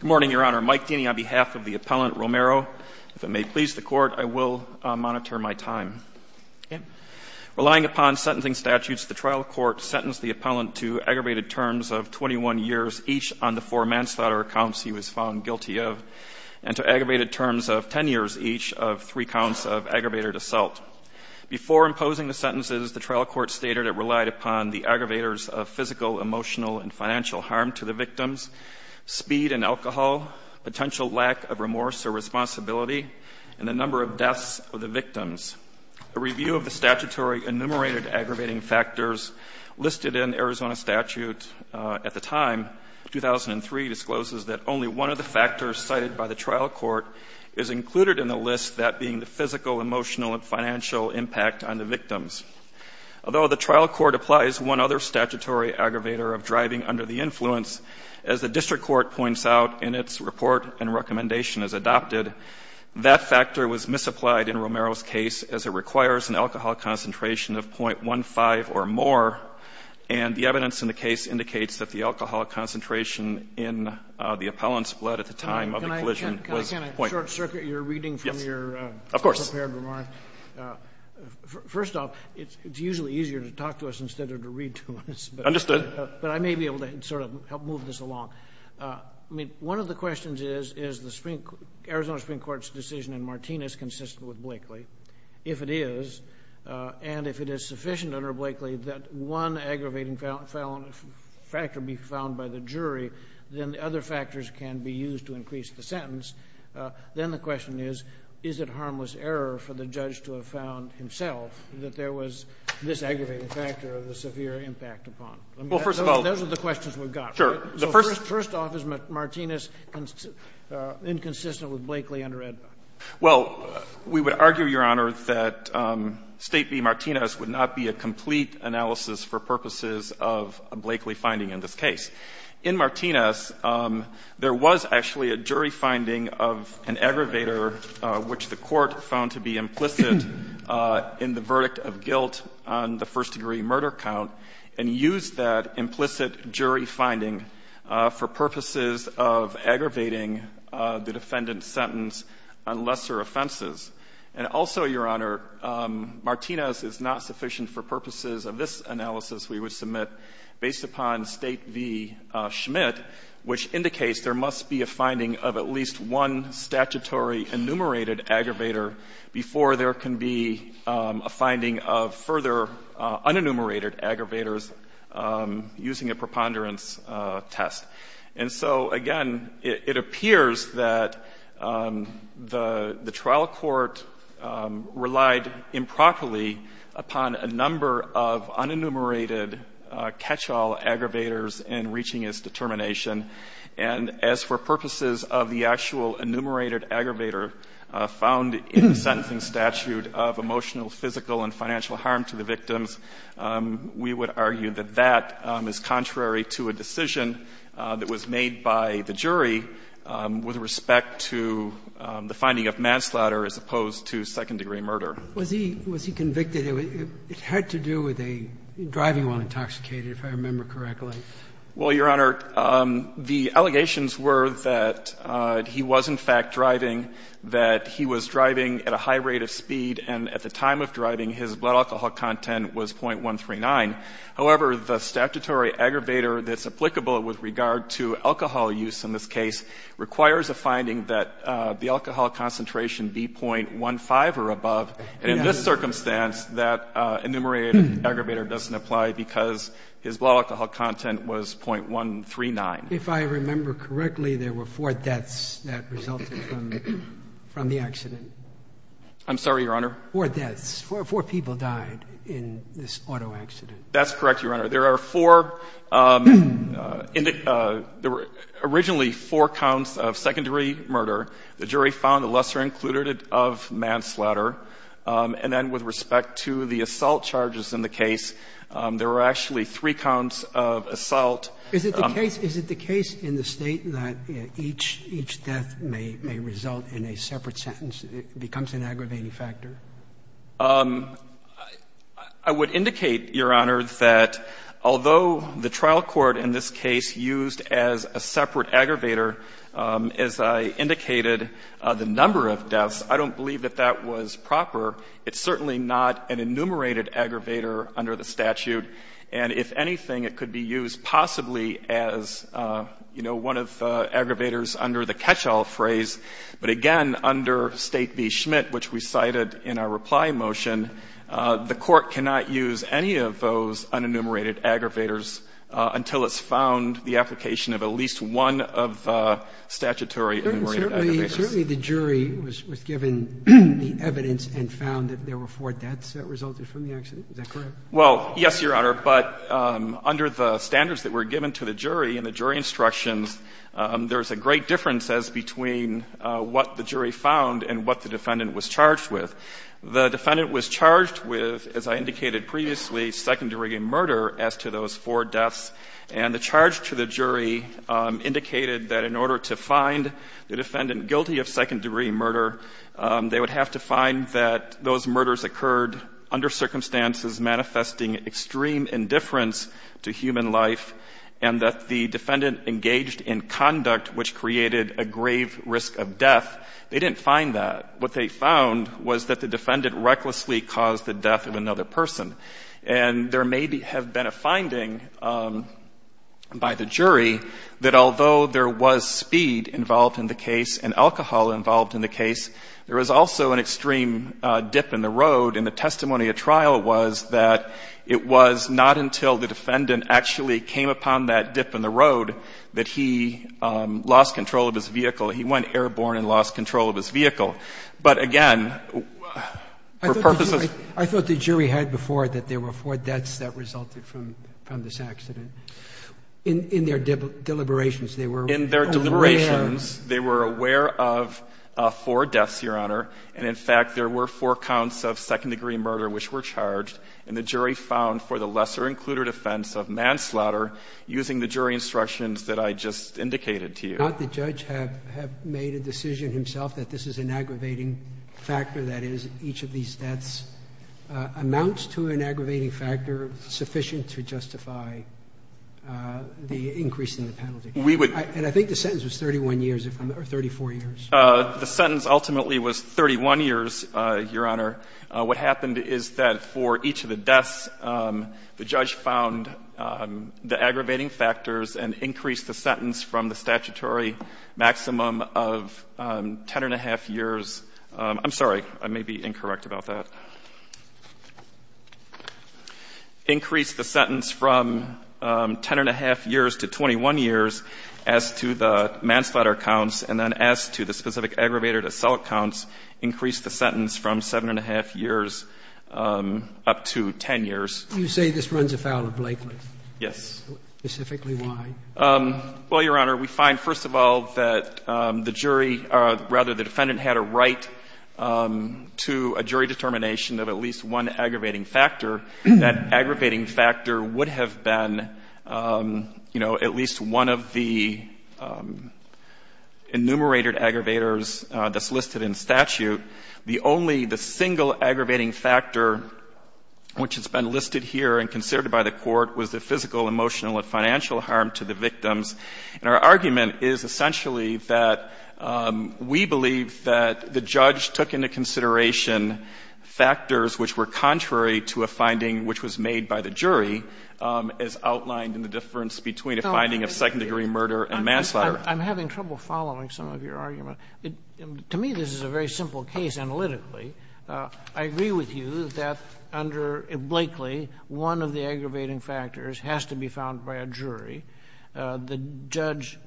Good morning, Your Honor. Mike Deany on behalf of the appellant Romero. If it may please the Court, I will monitor my time. Relying upon sentencing statutes, the trial court sentenced the appellant to aggravated terms of 21 years each on the four manslaughter accounts he was found guilty of and to aggravated terms of 10 years each of three counts of aggravated assault. Before imposing the sentences, the trial court stated it relied upon the aggravators of physical, emotional, and financial harm to the victims, speed in alcohol, potential lack of remorse or responsibility, and the number of deaths of the victims. A review of the statutory enumerated aggravating factors listed in Arizona statute at the time, 2003, discloses that only one of the factors cited by the trial court is included in the list, that being the physical, emotional, and financial impact on the victims. Although the trial court applies one other statutory aggravator of driving under the influence, as the district court points out in its report and recommendation as adopted, that factor was misapplied in Romero's case as it requires an alcohol concentration of 0.15 or more, and the evidence in the case indicates that the alcohol concentration in the appellant's blood at the time of the collision was 0.5. Your reading from your prepared remark. Yes, of course. First off, it's usually easier to talk to us instead of to read to us. Understood. But I may be able to sort of help move this along. I mean, one of the questions is, is the Arizona Supreme Court's decision in Martinez consistent with Blakely? If it is, and if it is sufficient under Blakely that one aggravating factor be found by the jury, then the other factors can be used to increase the sentence, then the question is, is it harmless error for the judge to have found himself that there was this aggravating factor of the severe impact upon? Those are the questions we've got. First off, is Martinez inconsistent with Blakely under AEDPA? Well, we would argue, Your Honor, that State v. Martinez would not be a complete analysis for purposes of a Blakely finding in this case. In Martinez, there was actually a jury finding of an aggravator which the Court found to be implicit in the verdict of guilt on the first-degree murder count, and used that implicit jury finding for purposes of aggravating the defendant's sentence on lesser offenses. And also, Your Honor, Martinez is not sufficient for purposes of this analysis we would submit based upon State v. Schmidt, which indicates there must be a finding of at least one statutory enumerated aggravator before there can be a finding of further unenumerated aggravators using a preponderance test. And so, again, it appears that the trial court relied improperly upon a number of unenumerated catch-all aggravators in reaching its determination. And as for purposes of the actual enumerated aggravator found in the sentencing statute of emotional, physical, and financial harm to the victims, we would argue that that is contrary to a decision that was made by the jury with respect to the finding of manslaughter as opposed to second-degree murder. Was he convicted? It had to do with a driving while intoxicated, if I remember correctly. Well, Your Honor, the allegations were that he was, in fact, driving, that he was driving at a high rate of speed, and at the time of driving, his blood alcohol content was .139. However, the statutory aggravator that's applicable with regard to alcohol use in this case requires a finding that the alcohol concentration be .15 or above. And in this circumstance, that enumerated aggravator doesn't apply because his blood alcohol content was .139. If I remember correctly, there were four deaths that resulted from the accident. I'm sorry, Your Honor? Four deaths. Four people died in this auto accident. That's correct, Your Honor. There are four — there were originally four counts of second-degree murder. The jury found the lesser included of manslaughter. And then with respect to the assault charges in the case, there were actually three counts of assault. Is it the case — is it the case in the State that each — each death may — may result in a separate sentence? It becomes an aggravating factor? I would indicate, Your Honor, that although the trial court in this case used as a separate aggravator, as I indicated, the number of deaths, I don't believe that that was proper. It's certainly not an enumerated aggravator under the statute. And if anything, it could be used possibly as, you know, one of the aggravators under the catch-all phrase. But again, under State v. Schmitt, which we cited in the State v. Schmitt, in our reply motion, the Court cannot use any of those unenumerated aggravators until it's found the application of at least one of the statutory enumerated aggravators. Certainly the jury was given the evidence and found that there were four deaths that resulted from the accident. Is that correct? Well, yes, Your Honor. But under the standards that were given to the jury and the jury instructions, there's a great difference as between what the jury found and what the defendant found. The defendant was charged with, as I indicated previously, secondary murder as to those four deaths. And the charge to the jury indicated that in order to find the defendant guilty of secondary murder, they would have to find that those murders occurred under circumstances manifesting extreme indifference to human life and that the defendant engaged in conduct which created a grave risk of death. They didn't find that. What they found was that the defendant recklessly caused the death of another person. And there may have been a finding by the jury that although there was speed involved in the case and alcohol involved in the case, there was also an extreme dip in the road. And the testimony at trial was that it was not until the defendant actually came upon that dip in the road that he lost control of his vehicle. He went But, again, for purposes... I thought the jury had before that there were four deaths that resulted from this accident. In their deliberations, they were... In their deliberations, they were aware of four deaths, Your Honor. And in fact, there were four counts of second-degree murder which were charged. And the jury found for the lesser-included offense of manslaughter using the jury instructions that I just indicated to you. Not the judge have made a decision himself that this is an aggravating factor, that is, each of these deaths amounts to an aggravating factor sufficient to justify the increase in the penalty. We would... And I think the sentence was 31 years or 34 years. The sentence ultimately was 31 years, Your Honor. What happened is that for each of the deaths, the judge found the aggravating factors and increased the sentence from the statutory maximum of 10-and-a-half years. I'm sorry. I may be incorrect about that. Increased the sentence from 10-and-a-half years to 21 years as to the manslaughter counts and then as to the specific aggravated assault counts, increased the sentence from 7-and-a-half years up to 10 years. You say this runs afoul of Blakely? Yes. Specifically why? Well, Your Honor, we find, first of all, that the jury, or rather the defendant had a right to a jury determination of at least one aggravating factor. That aggravating factor would have been, you know, at least one of the enumerated aggravators that's listed in statute. The only, the single aggravating factor which has been listed here and considered by the Court was the physical, emotional, and financial harm to the victims. And our argument is essentially that we believe that the judge took into consideration factors which were contrary to a finding which was made by the jury, as outlined in the difference between a finding of second-degree murder and manslaughter. I'm having trouble following some of your argument. To me, this is a very simple case analytically. I agree with you that under Blakely, one of the aggravating factors has to be found by a jury. The judge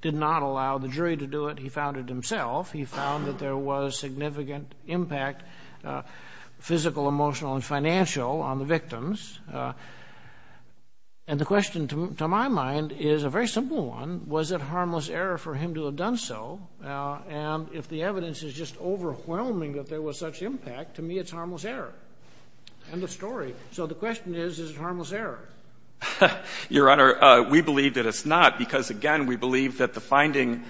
did not allow the jury to do it. He found it himself. He found that there was significant impact, physical, emotional, and financial, on the victims. And the question to my mind is a very simple one. Was it harmless error for him to have done so? And if the evidence is just overwhelming that there was such impact, to me it's harmless error. End of story. So the question is, is it harmless error? Your Honor, we believe that it's not because, again, we believe that the finding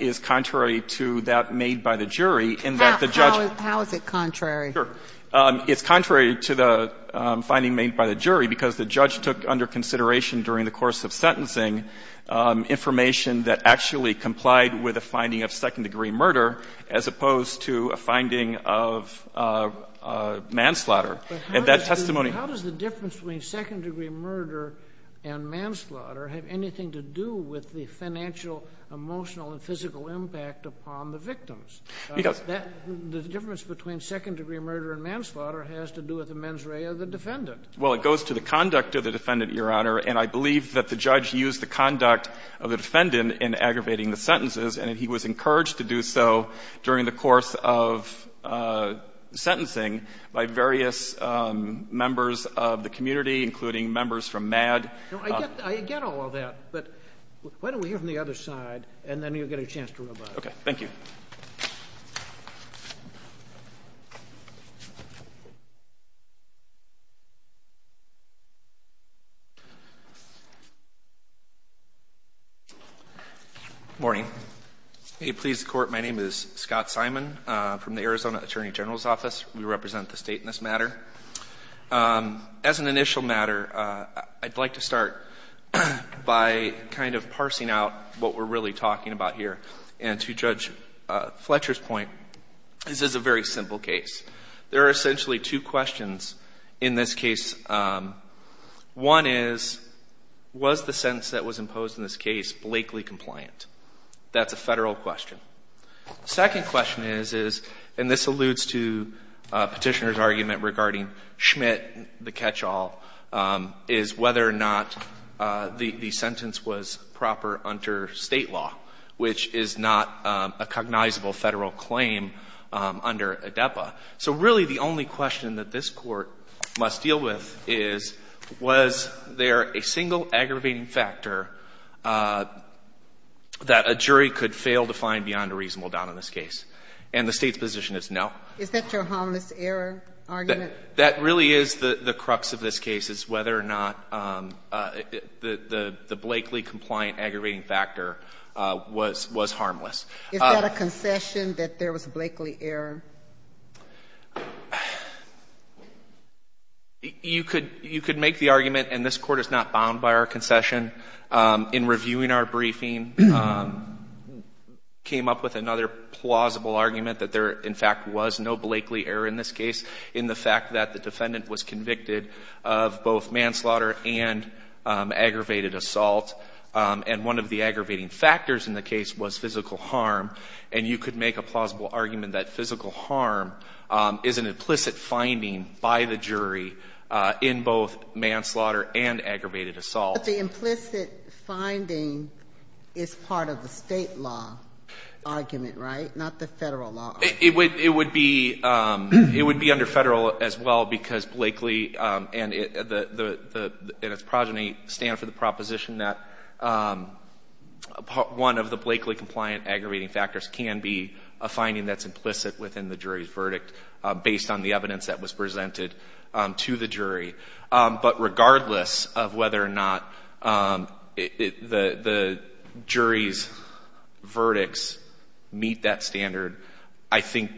is contrary to that made by the jury in that the judge How is it contrary? Sure. It's contrary to the finding made by the jury because the judge took under consideration during the course of sentencing information that actually complied with a finding of second-degree murder as opposed to a finding of manslaughter. But how does the difference between second-degree murder and manslaughter have anything to do with the financial, emotional, and physical impact upon the victims? The difference between second-degree murder and manslaughter has to do with the mens rea of the defendant. Well, it goes to the conduct of the defendant, Your Honor, and I believe that the judge used the conduct of the defendant in aggravating the sentences, and he was not the only one. I'm not going to go into the details of the case. Members of the community, including members from MADD. I get all of that, but why don't we hear from the other side and then you'll get a chance to rebut. Okay. Thank you. Good morning. May it please the Court, my name is Scott Simon from the Arizona Attorney General's Office. We represent the State in this matter. As an initial matter, I'd like to start by kind of parsing out what we're really talking about here. And to Judge Fletcher's point, this is a very simple case. There are essentially two questions in this case. One is, was the sentence that was imposed in this case blakely compliant? That's a Federal question. The second question is, and this alludes to Petitioner's argument regarding Schmidt, the catch-all, is whether or not the sentence was proper under State law, which is not a cognizable Federal claim under ADEPA. So really the only question that this Court must deal with is, was there a single aggravating factor that a jury could fail to find beyond a reasonable doubt in this case? And the State's position is no. Is that your harmless error argument? That really is the crux of this case, is whether or not the blakely compliant aggravating factor was harmless. Is that a concession that there was a blakely error? You could make the argument, and this Court is not bound by our concession, in reviewing our briefing, came up with another plausible argument that there in fact was no blakely error in this case in the fact that the defendant was convicted of both manslaughter and aggravated assault, and one of the aggravating factors in the case was physical harm. And you could make a plausible argument that physical harm is an implicit finding by the jury in both manslaughter and aggravated assault. But the implicit finding is part of the State law argument, right? Not the Federal law argument. It would be under Federal as well because blakely and its progeny stand for the proposition that one of the blakely compliant aggravating factors can be a finding that's implicit within the jury's verdict based on the evidence that was presented during the aggravation hearing. And so whether or not the jury's verdicts meet that standard, I think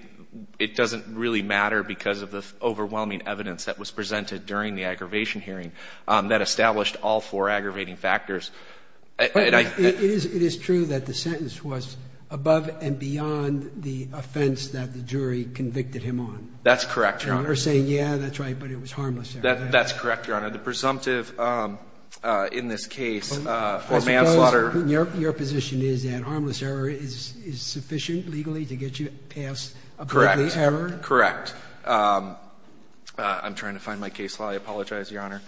it doesn't really matter because of the overwhelming evidence that was presented during the aggravation hearing that established all four aggravating factors. It is true that the sentence was above and beyond the offense that the jury convicted him on. That's correct, Your Honor. They're saying, yeah, that's right, but it was harmless. That's correct, Your Honor. The presumptive in this case for manslaughter. Your position is that harmless error is sufficient legally to get you past a blakely error? Correct. I'm trying to find my case law. I apologize, Your Honor.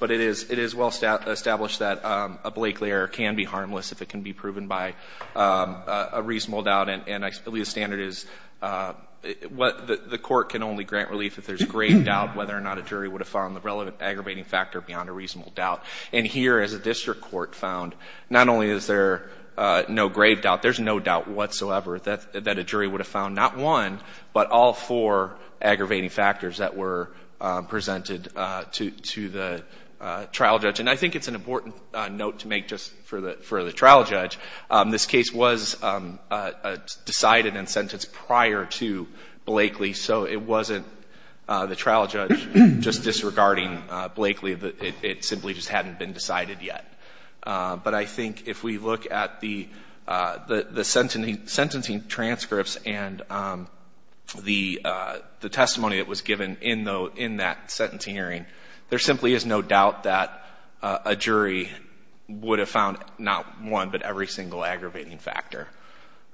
But it is well established that a blakely error can be harmless if it can be proven by a reasonable doubt, and at least the standard is the Court can only grant relief if there's grave doubt whether or not a jury would have found the relevant aggravating factor beyond a reasonable doubt. And here, as a district court found, not only is there no grave doubt, there's no doubt whatsoever that a jury would have found not one, but all four aggravating factors that were presented to the trial judge. And I think it's an important note to make just for the trial judge. This case was decided and sentenced prior to blakely, so it wasn't the trial judge just disregarding blakely. It simply just hadn't been decided yet. But I think if we look at the sentencing transcripts and the testimony that was given in that sentencing hearing, there simply is no doubt that a jury would have found not one, but every single aggravating factor.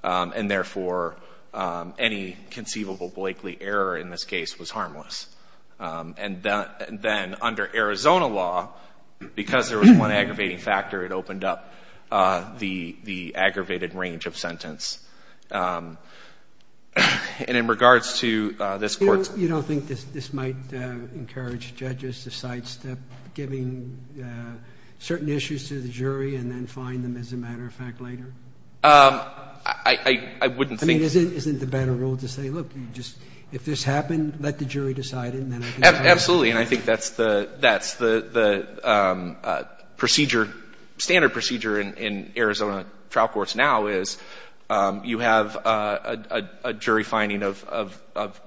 And therefore, any conceivable blakely error in this case was harmless. And then under Arizona law, because there was one aggravating factor, it opened up the aggravated range of sentence. And in regards to this Court's – You don't think this might encourage judges to sidestep giving certain issues to the jury and then find them, as a matter of fact, later? I wouldn't think – I mean, isn't the better rule to say, look, if this happened, let the jury decide and then – Absolutely. And I think that's the procedure, standard procedure in Arizona trial courts now is you have a jury finding of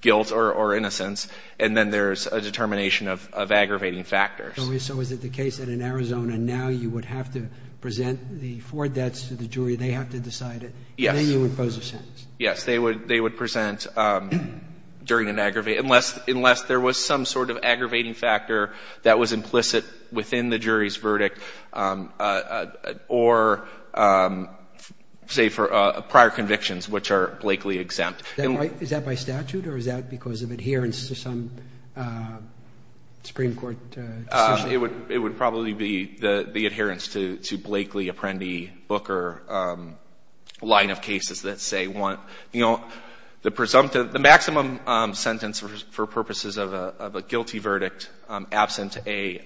guilt or innocence, and then there's a determination of aggravating factors. So is it the case that in Arizona now you would have to present the four debts to the jury? They have to decide it? Yes. And then you impose a sentence? Yes. They would present during an aggravating – unless there was some sort of aggravating factor that was implicit within the jury's verdict or, say, for prior convictions, which are blakely exempt. Is that by statute or is that because of adherence to some Supreme Court statute? It would probably be the adherence to Blakely, Apprendi, Booker line of cases that say, you know, the presumptive – the maximum sentence for purposes of a guilty verdict absent an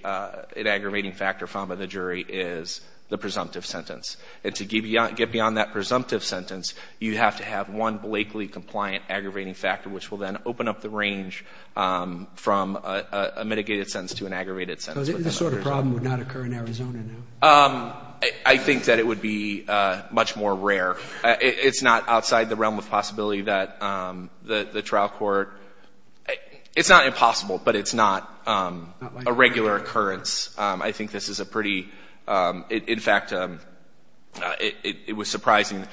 aggravating factor found by the jury is the presumptive sentence. And to get beyond that presumptive sentence, you have to have one blakely compliant aggravating factor, which will then open up the range from a mitigated sentence to an aggravated sentence. So this sort of problem would not occur in Arizona now? I think that it would be much more rare. It's not outside the realm of possibility that the trial court – it's not impossible, but it's not a regular occurrence. I think this is a pretty – in fact, it was surprising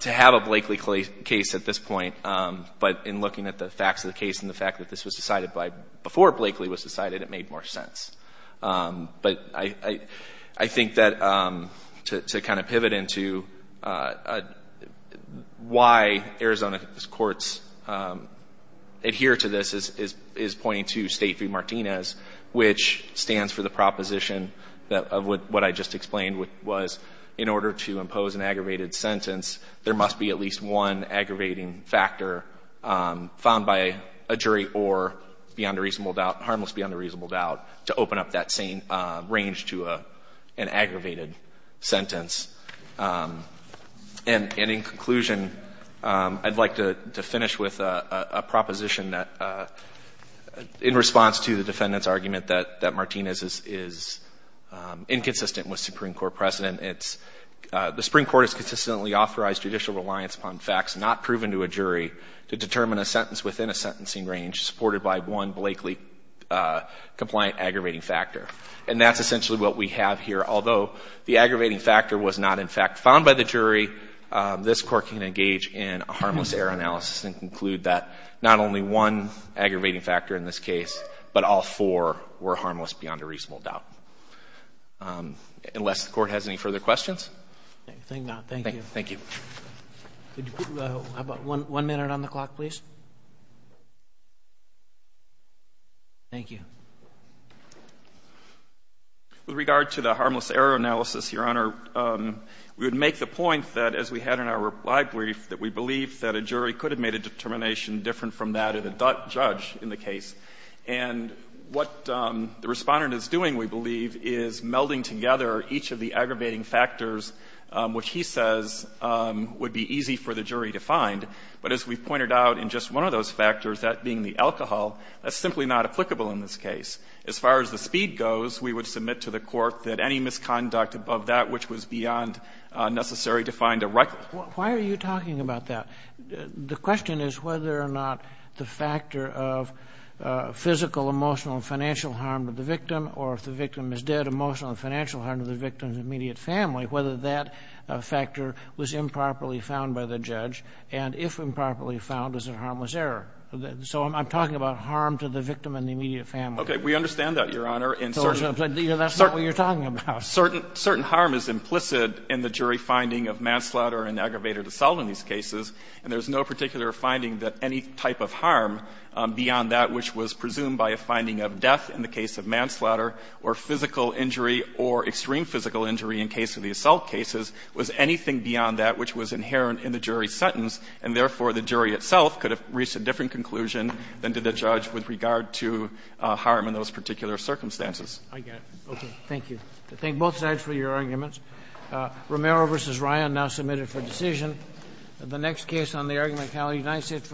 to have a blakely case at this point, but in looking at the facts of the case and the fact that this was decided, it made more sense. But I think that to kind of pivot into why Arizona courts adhere to this is pointing to State v. Martinez, which stands for the proposition of what I just explained, which was in order to impose an aggravated sentence, there must be at least one reasonable doubt to open up that same range to an aggravated sentence. And in conclusion, I'd like to finish with a proposition in response to the defendant's argument that Martinez is inconsistent with Supreme Court precedent. It's the Supreme Court has consistently authorized judicial reliance upon facts not proven to a jury to determine a sentence within a sentencing range supported by one blakely-compliant aggravating factor. And that's essentially what we have here. Although the aggravating factor was not, in fact, found by the jury, this Court can engage in a harmless error analysis and conclude that not only one aggravating factor in this case, but all four were harmless beyond a reasonable doubt. Unless the Court has any further questions? Thank you. Thank you. One minute on the clock, please. Thank you. With regard to the harmless error analysis, Your Honor, we would make the point that, as we had in our reply brief, that we believe that a jury could have made a determination different from that of the judge in the case. And what the Respondent is doing, we believe, is melding together each of the aggravating factors, which he says would be easy for the jury to find. But as we've pointed out, in just one of those factors, that being the alcohol, that's simply not applicable in this case. As far as the speed goes, we would submit to the Court that any misconduct above that which was beyond necessary to find a right. Why are you talking about that? The question is whether or not the factor of physical, emotional, and financial harm to the victim, or if the victim is dead, emotional and financial harm to the family, whether that factor was improperly found by the judge. And if improperly found, is it harmless error? So I'm talking about harm to the victim and the immediate family. Okay. We understand that, Your Honor. That's not what you're talking about. Certain harm is implicit in the jury finding of manslaughter and aggravated assault in these cases, and there's no particular finding that any type of harm beyond that which was presumed by a finding of death in the case of manslaughter or physical injury or extreme physical injury in case of the assault cases was anything beyond that which was inherent in the jury's sentence, and therefore the jury itself could have reached a different conclusion than did the judge with regard to harm in those particular circumstances. I get it. Okay. Thank you. I thank both sides for your arguments. Romero v. Ryan now submitted for decision. The next case on the argument is United States v. Weygandt.